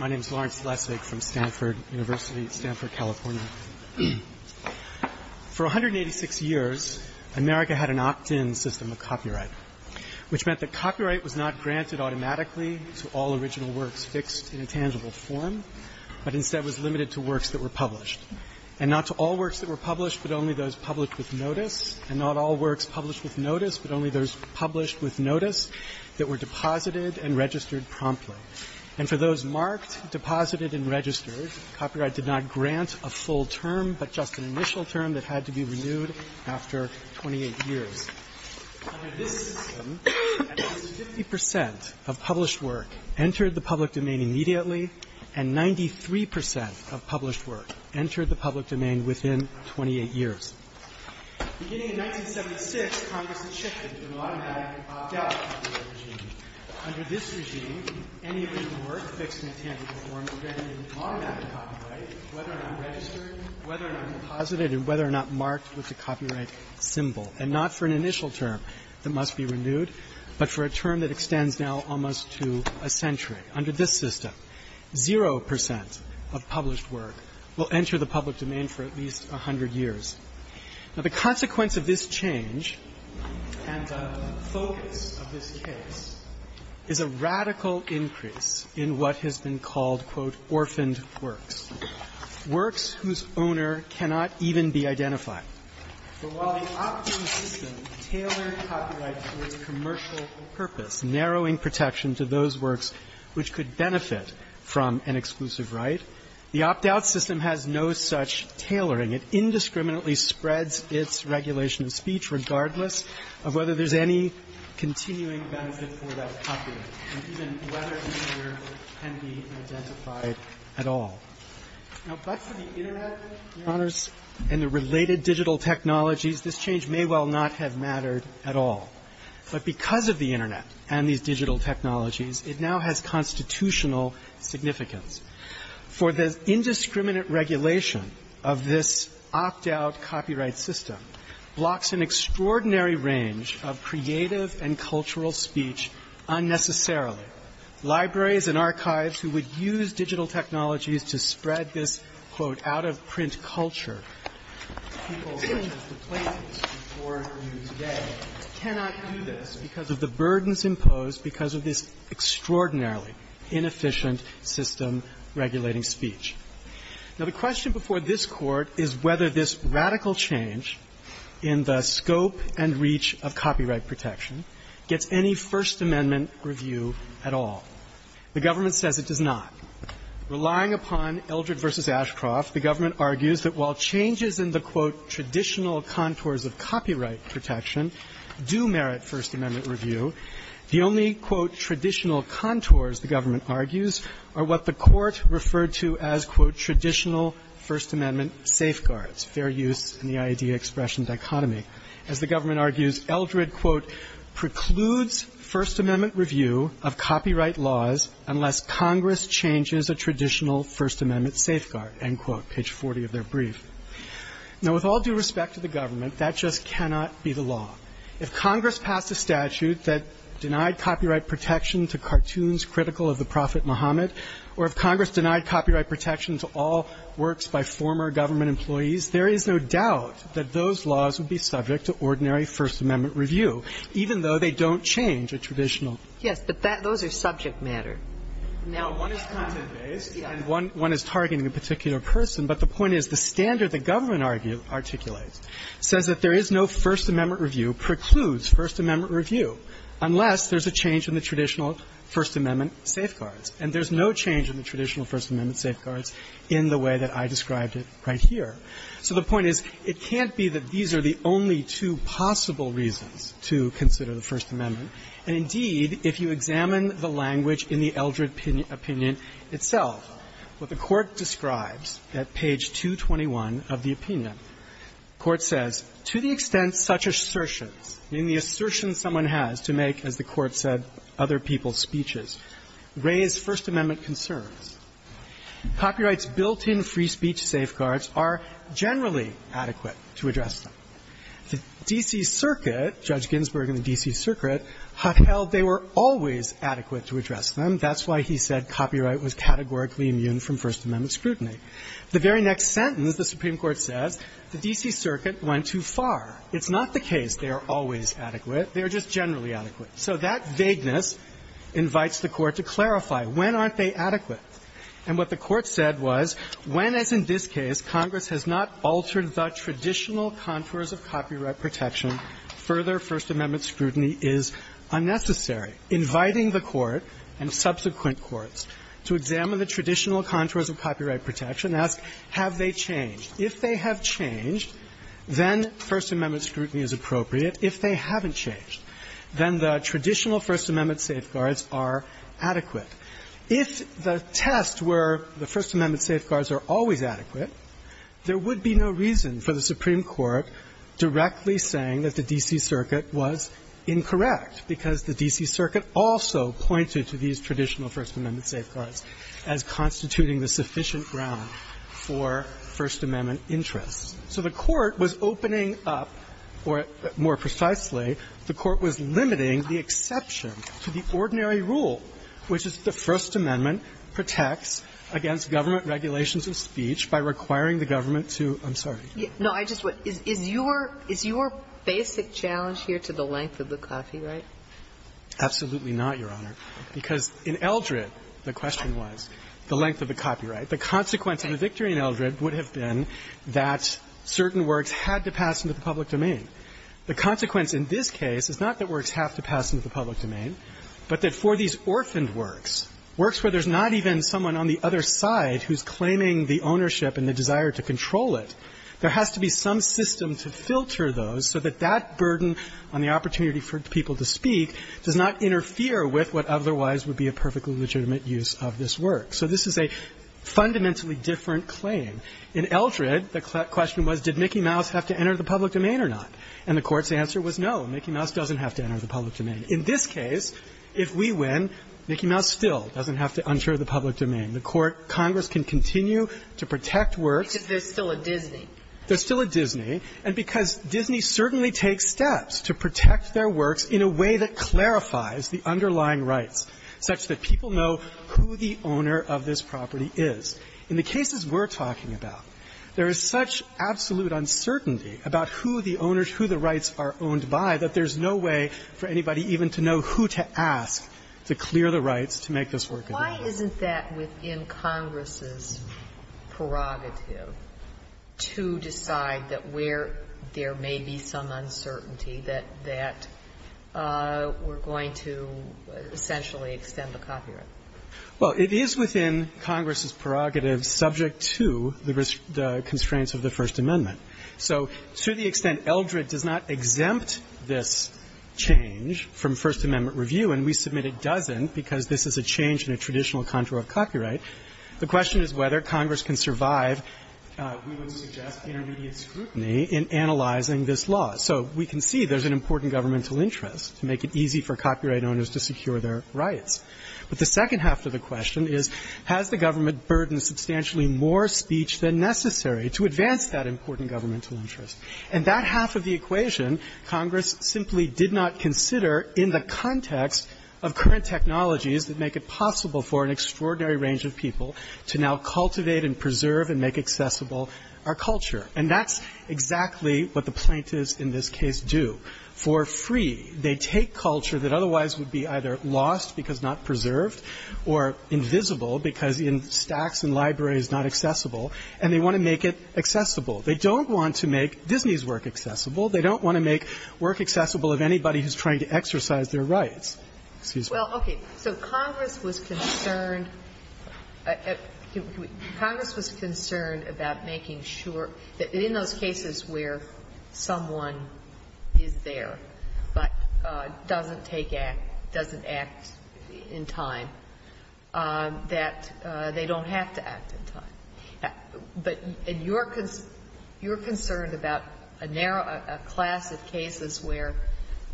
Lawrence Lessig, Stanford University For 186 years, America had an opt-in system of copyright, which meant that copyright was not granted automatically to all original works fixed in a tangible form, but instead was limited to works that were published, and not to all works that were published, but only those published with notice, and not all works published with notice, but only those published with notice, that were deposited and registered promptly. And for those marked, deposited, and registered, copyright did not grant a full term, but just an initial term that had to be renewed after 28 years. Under this system, at least 50 percent of published work entered the public domain immediately, and 93 percent of published work entered the public domain within 28 years. Beginning in 1976, Congress had shifted to an automatic, opt-out copyright regime. Under this regime, any original work fixed in a tangible form was granted an automatic copyright, whether or not registered, whether or not deposited, and whether or not marked with the copyright symbol, and not for an initial term that must be renewed, but for a term that extends now almost to a century. Under this system, zero percent of published work will enter the public domain for at least 100 years. Now, the consequence of this change and the focus of this case is a radical increase in the number of unrefined works, works whose owner cannot even be identified. But while the opt-in system tailored copyright to its commercial purpose, narrowing protection to those works which could benefit from an exclusive right, the opt-out system has no such tailoring. It indiscriminately spreads its regulation of speech regardless of whether there's any continuing benefit for that copyright, and even whether the owner can be identified at all. Now, but for the Internet, Your Honors, and the related digital technologies, this change may well not have mattered at all. But because of the Internet and these digital technologies, it now has constitutional significance. For the indiscriminate regulation of this opt-out copyright system blocks an extraordinary range of creative and cultural speech unnecessarily. Libraries and archives who would use digital technologies to spread this, quote, out-of-print culture, people such as the plaintiffs before you today, cannot do this because of the burdens imposed because of this extraordinarily inefficient system regulating speech. Now, the question before this Court is whether this radical change in the scope and reach of copyright protection gets any First Amendment review at all. The government says it does not. Relying upon Eldred v. Ashcroft, the government argues that while changes in the, quote, traditional contours of copyright protection do merit First Amendment review, the only, quote, traditional contours, the government argues, are what the government calls, quote, traditional First Amendment safeguards, fair use in the idea-expression dichotomy. As the government argues, Eldred, quote, precludes First Amendment review of copyright laws unless Congress changes a traditional First Amendment safeguard, end quote, page 40 of their brief. Now, with all due respect to the government, that just cannot be the law. If Congress passed a statute that denied copyright protection to cartoons critical of the Prophet Muhammad, or if Congress denied copyright protection to all works by former government employees, there is no doubt that those laws would be subject to ordinary First Amendment review, even though they don't change a traditional. Ginsburg. Yes, but that those are subject matter. Now, one is content-based and one is targeting a particular person. But the point is the standard the government argues, articulates, says that there is no First Amendment review precludes First Amendment review unless there's a change in the traditional First Amendment safeguards. And there's no change in the traditional First Amendment safeguards in the way that I described it right here. So the point is, it can't be that these are the only two possible reasons to consider the First Amendment. And indeed, if you examine the language in the Eldred opinion itself, what the Court describes at page 221 of the opinion, the Court says, to the extent such assertions, I mean, the assertion someone has to make, as the Court said, other people's speeches, raise First Amendment concerns. Copyright's built-in free speech safeguards are generally adequate to address them. The D.C. Circuit, Judge Ginsburg in the D.C. Circuit, hotheld they were always adequate to address them. That's why he said copyright was categorically immune from First Amendment scrutiny. The very next sentence, the Supreme Court says, the D.C. Circuit went too far. It's not the case they are always adequate. They are just generally adequate. So that vagueness invites the Court to clarify, when aren't they adequate? And what the Court said was, when, as in this case, Congress has not altered the traditional contours of copyright protection, further First Amendment scrutiny is unnecessary. Inviting the Court and subsequent courts to examine the traditional contours of copyright protection, ask, have they changed? If they have changed, then First Amendment scrutiny is appropriate. If they haven't changed, then the traditional First Amendment safeguards are adequate. If the test were the First Amendment safeguards are always adequate, there would be no reason for the Supreme Court directly saying that the D.C. Circuit was incorrect, because the D.C. Circuit also pointed to these traditional First Amendment safeguards as constituting the sufficient ground for First Amendment interests. So the Court was opening up, or more precisely, the Court was limiting the exception to the ordinary rule, which is that the First Amendment protects against government regulations of speech by requiring the government to – I'm sorry. No, I just want – is your basic challenge here to the length of the copyright? Absolutely not, Your Honor. Because in Eldred, the question was the length of the copyright. The consequence of the victory in Eldred would have been that certain works had to pass into the public domain. The consequence in this case is not that works have to pass into the public domain, but that for these orphaned works, works where there's not even someone on the other side who's claiming the ownership and the desire to control it, there has to be some system to filter those so that that burden on the opportunity for people to speak does not interfere with what otherwise would be a perfectly legitimate use of this work. So this is a fundamentally different claim. In Eldred, the question was, did Mickey Mouse have to enter the public domain or not? And the Court's answer was no, Mickey Mouse doesn't have to enter the public domain. In this case, if we win, Mickey Mouse still doesn't have to enter the public domain. The Court – Congress can continue to protect works. It's just there's still a Disney. There's still a Disney. And because Disney certainly takes steps to protect their works in a way that clarifies the underlying rights such that people know who the owner of this property is. In the cases we're talking about, there is such absolute uncertainty about who the owners, who the rights are owned by, that there's no way for anybody even to know who to ask to clear the rights to make this work. Sotomayor, why isn't that within Congress's prerogative to decide that where there may be some uncertainty, that that we're going to essentially extend the copyright? Well, it is within Congress's prerogative subject to the constraints of the First Amendment. So to the extent Eldred does not exempt this change from First Amendment review, and we submit it doesn't because this is a change in a traditional contour of copyright, the question is whether Congress can survive, we would suggest, intermediate scrutiny in analyzing this law. So we can see there's an important governmental interest to make it easy for copyright owners to secure their rights. But the second half of the question is, has the government burdened substantially more speech than necessary to advance that important governmental interest? And that half of the equation, Congress simply did not consider in the context of current technologies that make it possible for an extraordinary range of people to now cultivate and preserve and make accessible our culture. And that's exactly what the plaintiffs in this case do. For free, they take culture that otherwise would be either lost because not preserved or invisible because in stacks and libraries not accessible, and they want to make it accessible. They don't want to make Disney's work accessible. They don't want to make work accessible of anybody who's trying to exercise their rights. Excuse me. Ginsburg. Well, okay. So Congress was concerned at the end of the day, Congress was concerned about making sure that in those cases where someone is there but doesn't take act, doesn't act in time, that they don't have to act in time. But you're concerned about a narrow class of cases where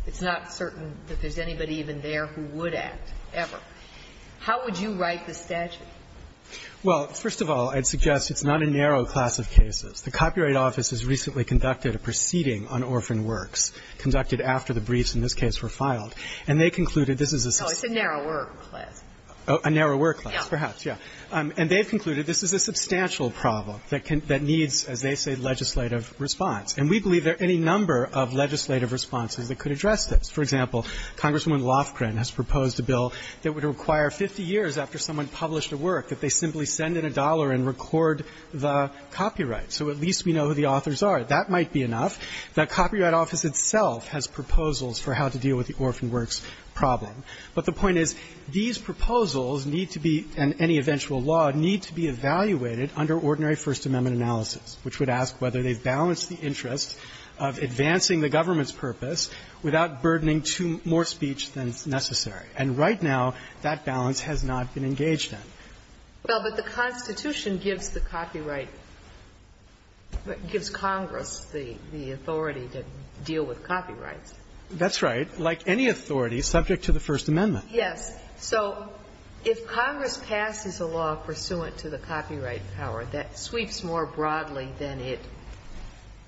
it's not certain that there's anybody even there who would act ever. How would you write the statute? Well, first of all, I'd suggest it's not a narrow class of cases. The Copyright Office has recently conducted a proceeding on orphan works, conducted after the briefs in this case were filed, and they concluded this is a substantial class. Oh, it's a narrower class. A narrower class, perhaps, yes. And they've concluded this is a substantial problem that needs, as they say, legislative response. And we believe there are any number of legislative responses that could address this. For example, Congresswoman Lofgren has proposed a bill that would require 50 years after someone published a work that they simply send in a dollar and record the copyright. So at least we know who the authors are. That might be enough. The Copyright Office itself has proposals for how to deal with the orphan works problem. But the point is, these proposals need to be, and any eventual law, need to be evaluated under ordinary First Amendment analysis, which would ask whether they balance the interest of advancing the government's purpose without burdening more speech than is necessary. And right now, that balance has not been engaged in. Well, but the Constitution gives the copyright – gives Congress the authority to deal with copyrights. That's right. Like any authority, subject to the First Amendment. Yes. So if Congress passes a law pursuant to the copyright power that sweeps more broadly than it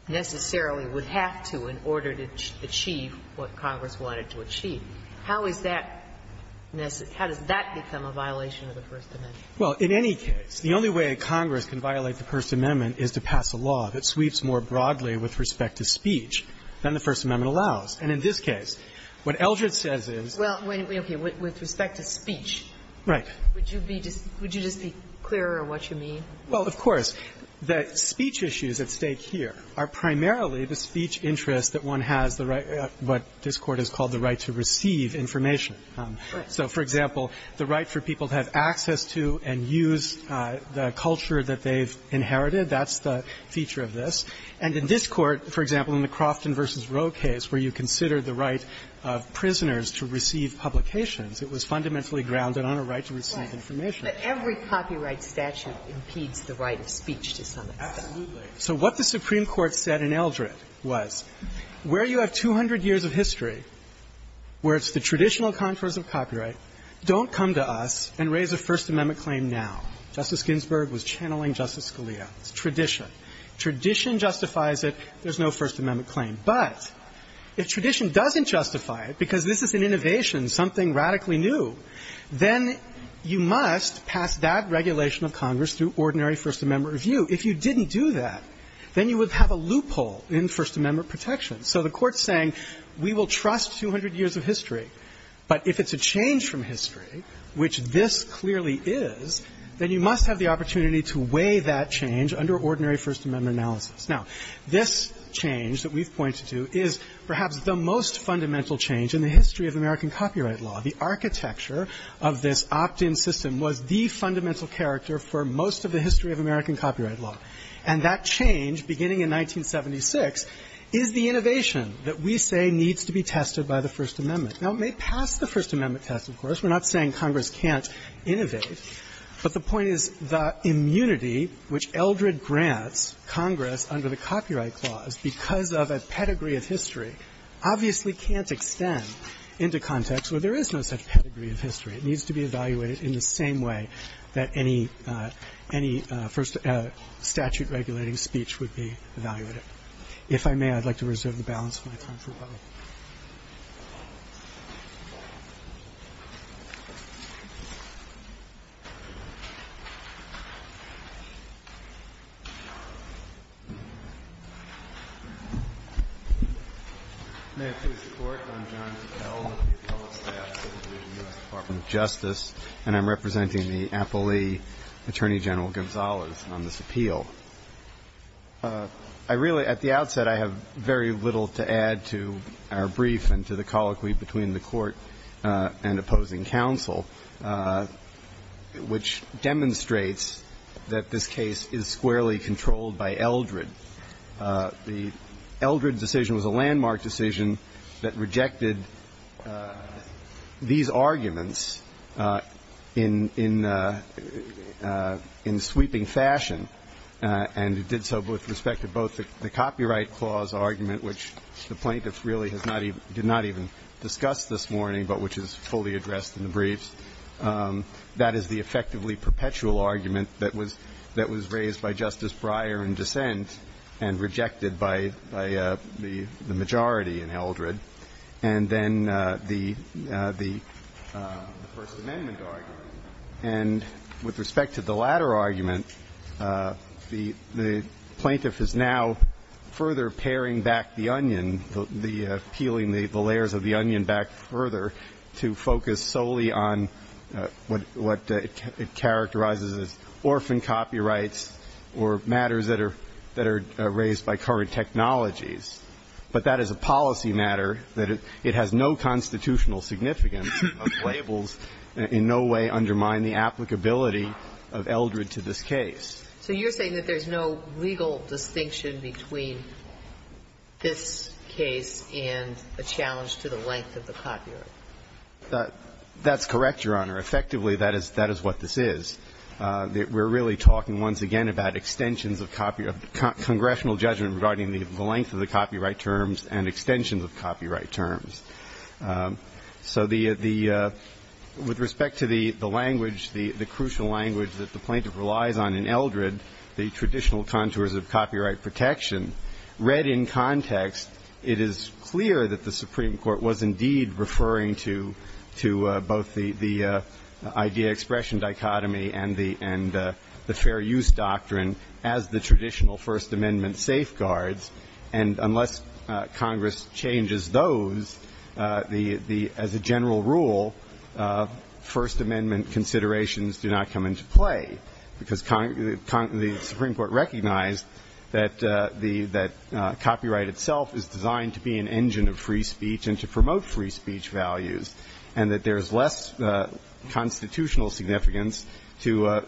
necessarily would have to in order to achieve what Congress wanted to achieve, how is that – how does that become a violation of the First Amendment? Well, in any case, the only way Congress can violate the First Amendment is to pass a law that sweeps more broadly with respect to speech than the First Amendment allows. And in this case, what Eldred says is – Well, okay. With respect to speech – Right. Would you be – would you just be clearer on what you mean? Well, of course. The speech issues at stake here are primarily the speech interest that one has the right – what this Court has called the right to receive information. So, for example, the right for people to have access to and use the culture that they've inherited, that's the feature of this. And in this Court, for example, in the Crofton v. Roe case, where you consider the right of prisoners to receive publications, it was fundamentally grounded on a right to receive information. But every copyright statute impedes the right of speech to some extent. Absolutely. So what the Supreme Court said in Eldred was, where you have 200 years of history, where it's the traditional contours of copyright, don't come to us and raise a First Amendment claim now. Justice Ginsburg was channeling Justice Scalia. It's tradition. Tradition justifies it. There's no First Amendment claim. But if tradition doesn't justify it, because this is an innovation, something radically new, then you must pass that regulation of Congress through ordinary First Amendment review. If you didn't do that, then you would have a loophole in First Amendment protection. So the Court's saying, we will trust 200 years of history, but if it's a change from history, which this clearly is, then you must have the opportunity to weigh that change under ordinary First Amendment analysis. Now, this change that we've pointed to is perhaps the most fundamental change in the history of American copyright law. The architecture of this opt-in system was the fundamental character for most of the history of American copyright law. And that change, beginning in 1976, is the innovation that we say needs to be tested by the First Amendment. Now, it may pass the First Amendment test, of course. We're not saying Congress can't innovate. But the point is, the immunity which Eldred grants Congress under the Copyright Clause because of a pedigree of history obviously can't extend into context where there is no such pedigree of history. It needs to be evaluated in the same way that any first statute-regulating speech would be evaluated. If I may, I'd like to reserve the balance of my time for a moment. May I please report, I'm John Tickell with the public staff of the U.S. Department of Justice. And I'm representing the appellee, Attorney General Gonzalez, on this appeal. I really, at the outset, I have very little to add to our brief and to the colloquy between the Court and opposing counsel, which demonstrates that this case is squarely controlled by Eldred. The Eldred decision was a landmark decision that rejected these arguments in sweeping fashion. And it did so with respect to both the Copyright Clause argument, which the plaintiff really has not even, did not even discuss this morning, but which is fully addressed in the briefs. That is the effectively perpetual argument that was raised by Justice Breyer in dissent and rejected by the majority in Eldred. And then the First Amendment argument. And with respect to the latter argument, the plaintiff is now further paring back the onion, peeling the layers of the onion back further to focus solely on what it characterizes as orphan copyrights or matters that are raised by current technologies. But that is a policy matter that it has no constitutional significance. Labels in no way undermine the applicability of Eldred to this case. So you're saying that there's no legal distinction between this case and the challenge to the length of the copyright? That's correct, Your Honor. Effectively, that is what this is. We're really talking once again about extensions of congressional judgment regarding the length of the copyright terms and extensions of copyright terms. So the, with respect to the language, the crucial language that the plaintiff relies on in Eldred, the traditional contours of copyright protection, read in context, it is clear that the Supreme Court was indeed referring to both the idea-expression dichotomy and the fair use doctrine as the traditional First Amendment safeguards. And unless Congress changes those, as a general rule, First Amendment considerations do not come into play because the Supreme Court recognized that copyright itself is designed to be an engine of free speech and to promote free speech values, and that there's less constitutional significance to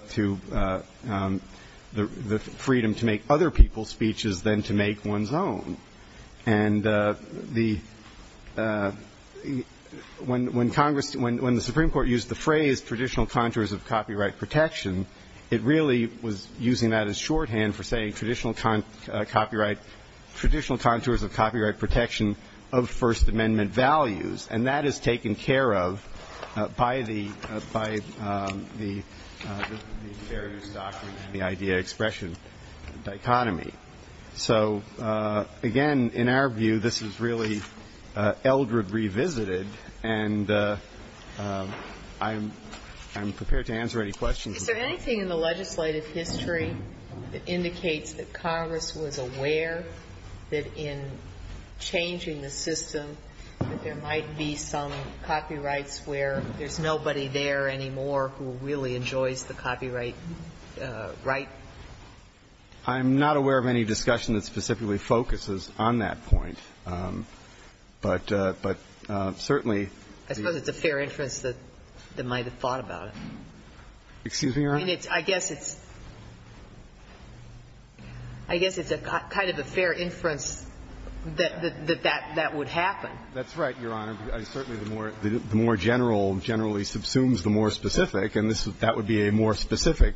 the freedom to make other people's speeches than to make one's own. And the, when Congress, when the Supreme Court used the phrase traditional contours of copyright protection, it really was using that as shorthand for saying traditional copyright, traditional contours of copyright protection of First Amendment values. And that is taken care of by the fair use doctrine and the idea-expression dichotomy. So, again, in our view, this is really Eldred revisited, and I'm prepared to answer any questions. Is there anything in the legislative history that indicates that Congress was aware that in changing the system that there might be some copyrights where there's nobody there anymore who really enjoys the copyright right? I'm not aware of any discussion that specifically focuses on that point. But certainly the ---- I suppose it's a fair inference that they might have thought about it. Excuse me, Your Honor? I mean, I guess it's a kind of a fair inference that that would happen. That's right, Your Honor. Certainly the more general generally subsumes the more specific, and that would be a more specific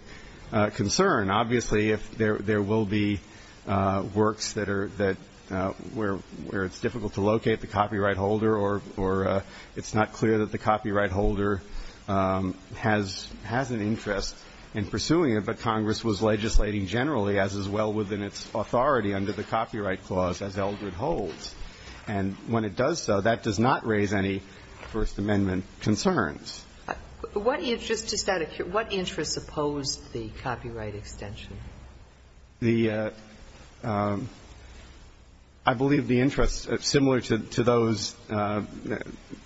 concern. Obviously, there will be works that are, where it's difficult to locate the copyright holder or it's not clear that the copyright holder has any interest in pursuing it, but Congress was legislating generally as is well within its authority under the Copyright Clause as Eldred holds. And when it does so, that does not raise any First Amendment concerns. What interest opposed the copyright extension? The ---- I believe the interest, similar to those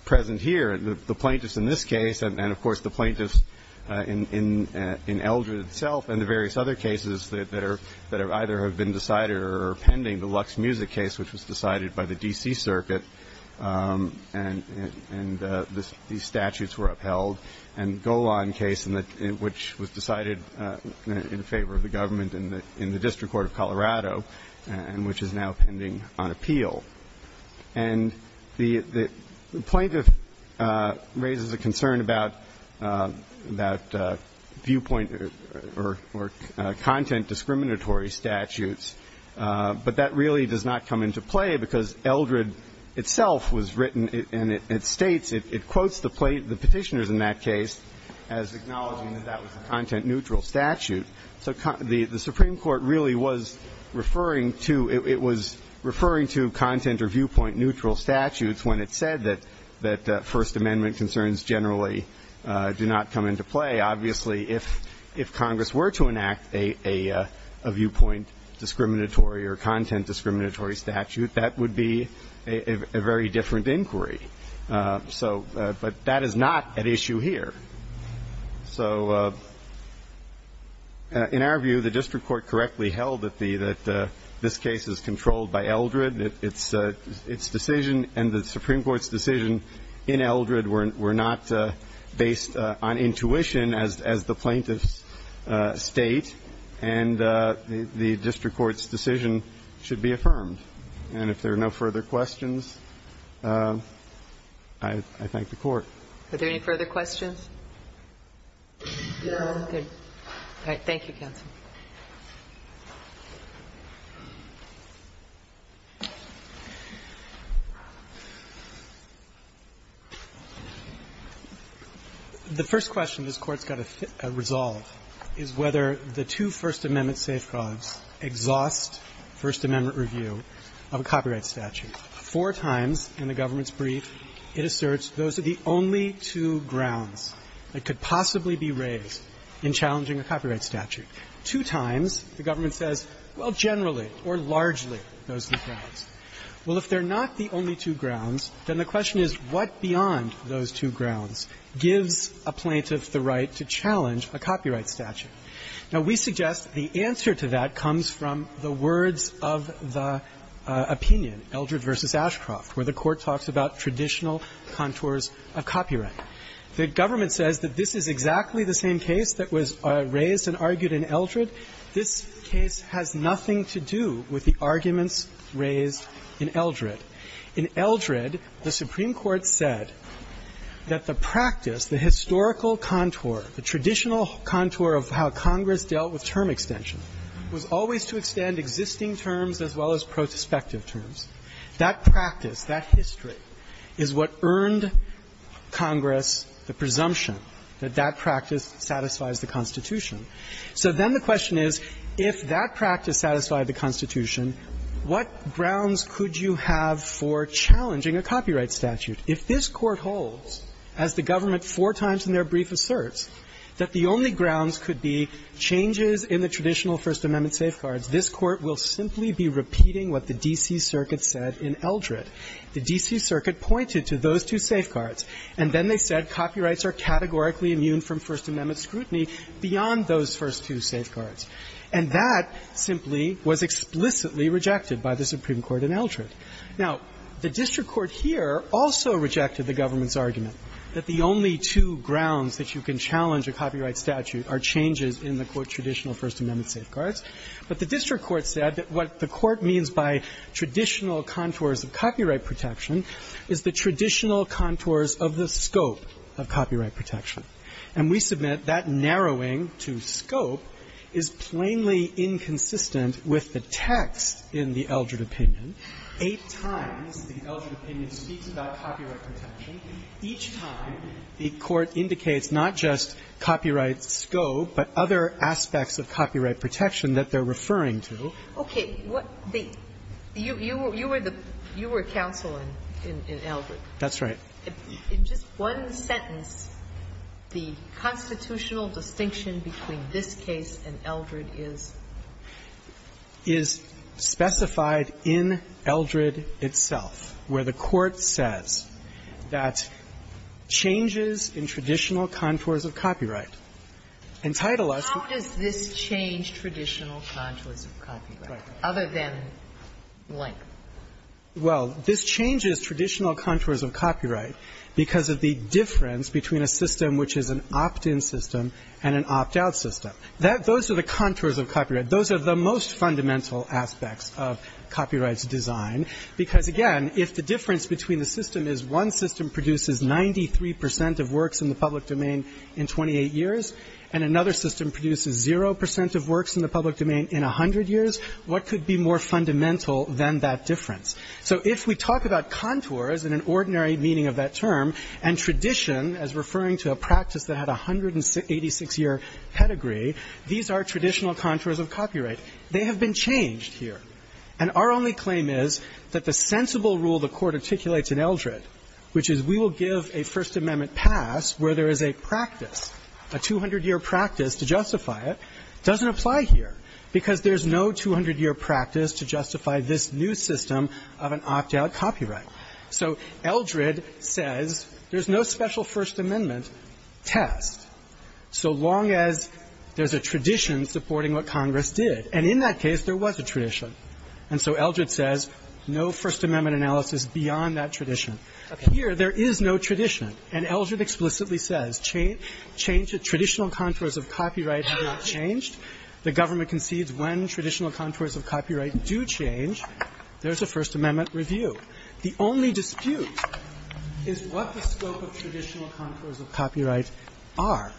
present here, the plaintiffs in this case and, of course, the plaintiffs in Eldred itself and the various other cases that either have been decided or are pending, the Lux Music case, which was decided by the D.C. Circuit, and these statutes were upheld, and Golan case, which was decided in favor of the government in the District Court of Colorado, and which is now pending on appeal. And the plaintiff raises a concern about viewpoint or content discriminatory statutes, but that really does not come into play because Eldred itself was written and it states, it quotes the petitioners in that case as acknowledging that that was a content neutral statute. So the Supreme Court really was referring to, it was referring to content or viewpoint neutral statutes when it said that First Amendment concerns generally do not come into play. Obviously, if Congress were to enact a viewpoint discriminatory or content discriminatory statute, that would be a very different inquiry. So, but that is not at issue here. So, in our view, the District Court correctly held that this case is controlled by Eldred. Its decision and the Supreme Court's decision in Eldred were not based on intuition as the plaintiff's state, and the District Court's decision should be affirmed. And if there are no further questions, I thank the Court. Are there any further questions? Good. All right. Thank you, counsel. The first question this Court's got to resolve is whether the two First Amendment safeguards exhaust First Amendment review of a copyright statute. Four times in the government's brief, it asserts those are the only two grounds that could possibly be raised in challenging a copyright statute. Two times, the government says, well, generally or largely, those are the grounds. Well, if they're not the only two grounds, then the question is, what beyond those two grounds gives a plaintiff the right to challenge a copyright statute? Now, we suggest the answer to that comes from the words of the opinion, Eldred v. Ashcroft, where the Court talks about traditional contours of copyright. The government says that this is exactly the same case that was raised and argued in Eldred. This case has nothing to do with the arguments raised in Eldred. In Eldred, the Supreme Court said that the practice, the historical contour, the traditional contour of how Congress dealt with term extension, was always to extend existing terms as well as prospective terms. That practice, that history, is what earned Congress the presumption that that practice satisfies the Constitution. So then the question is, if that practice satisfied the Constitution, what grounds could you have for challenging a copyright statute? If this Court holds, as the government four times in their brief asserts, that the only grounds could be changes in the traditional First Amendment safeguards, this Court will simply be repeating what the D.C. Circuit said in Eldred. The D.C. Circuit pointed to those two safeguards, and then they said copyrights are categorically immune from First Amendment scrutiny beyond those first two safeguards. And that simply was explicitly rejected by the Supreme Court in Eldred. Now, the district court here also rejected the government's argument that the only two grounds that you can challenge a copyright statute are changes in the, quote, traditional First Amendment safeguards. But the district court said that what the court means by traditional contours of copyright protection is the traditional contours of the scope of copyright protection. And we submit that narrowing to scope is plainly inconsistent with the text in the So the district court said that eight times the Eldred opinion speaks about copyright protection, each time the Court indicates not just copyright scope but other aspects of copyright protection that they're referring to. Okay. You were counsel in Eldred. That's right. In just one sentence, the constitutional distinction between this case and Eldred is? Is specified in Eldred itself, where the Court says that changes in traditional contours of copyright entitle us to How does this change traditional contours of copyright, other than blank? Well, this changes traditional contours of copyright because of the difference between a system which is an opt-in system and an opt-out system. Those are the contours of copyright. Those are the most fundamental aspects of copyrights design. Because, again, if the difference between the system is one system produces 93 percent of works in the public domain in 28 years and another system produces zero percent of works in the public domain in 100 years, what could be more fundamental than that difference? So if we talk about contours and an ordinary meaning of that term and tradition as referring to a practice that had 186-year pedigree, these are traditional contours of copyright. They have been changed here. And our only claim is that the sensible rule the Court articulates in Eldred, which is we will give a First Amendment pass where there is a practice, a 200-year practice to justify it, doesn't apply here because there's no 200-year practice to justify this new system of an opt-out copyright. So Eldred says there's no special First Amendment test so long as there's a tradition supporting what Congress did, and in that case there was a tradition. And so Eldred says no First Amendment analysis beyond that tradition. Here, there is no tradition. And Eldred explicitly says traditional contours of copyright have not changed. The government concedes when traditional contours of copyright do change, there's a First Amendment review. The only dispute is what the scope of traditional contours of copyright are.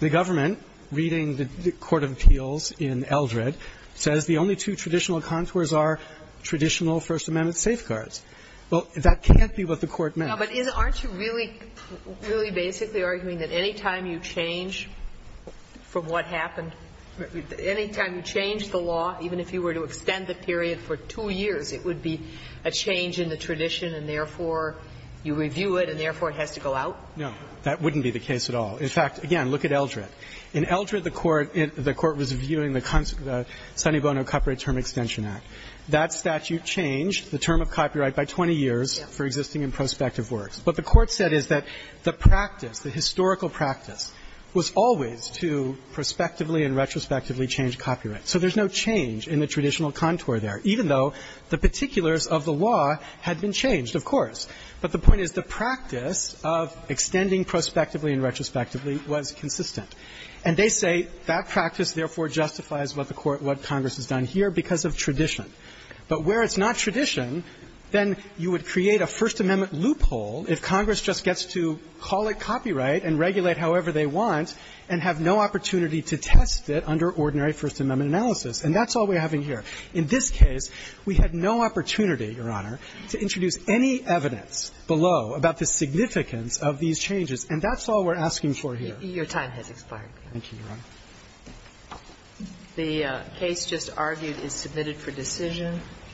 The government, reading the Court of Appeals in Eldred, says the only two traditional contours are traditional First Amendment safeguards. Well, that can't be what the Court meant. Ginsburg. But aren't you really, really basically arguing that any time you change from what happened, any time you change the law, even if you were to extend the period for two years, it would be a change in the tradition, and therefore, you review it, and therefore it has to go out? No. That wouldn't be the case at all. In fact, again, look at Eldred. In Eldred, the Court was viewing the Sonny Bono Copyright Term Extension Act. That statute changed the term of copyright by 20 years for existing and prospective works. What the Court said is that the practice, the historical practice, was always to prospectively and retrospectively change copyright. So there's no change in the traditional contour there, even though the particulars of the law had been changed, of course. But the point is the practice of extending prospectively and retrospectively was consistent. And they say that practice, therefore, justifies what the Court, what Congress has done here because of tradition. But where it's not tradition, then you would create a First Amendment loophole if Congress just gets to call it copyright and regulate however they want and have no opportunity to test it under ordinary First Amendment analysis. And that's all we're having here. In this case, we had no opportunity, Your Honor, to introduce any evidence below about the significance of these changes. And that's all we're asking for here. Your time has expired. Thank you, Your Honor. The case just argued is submitted for decision.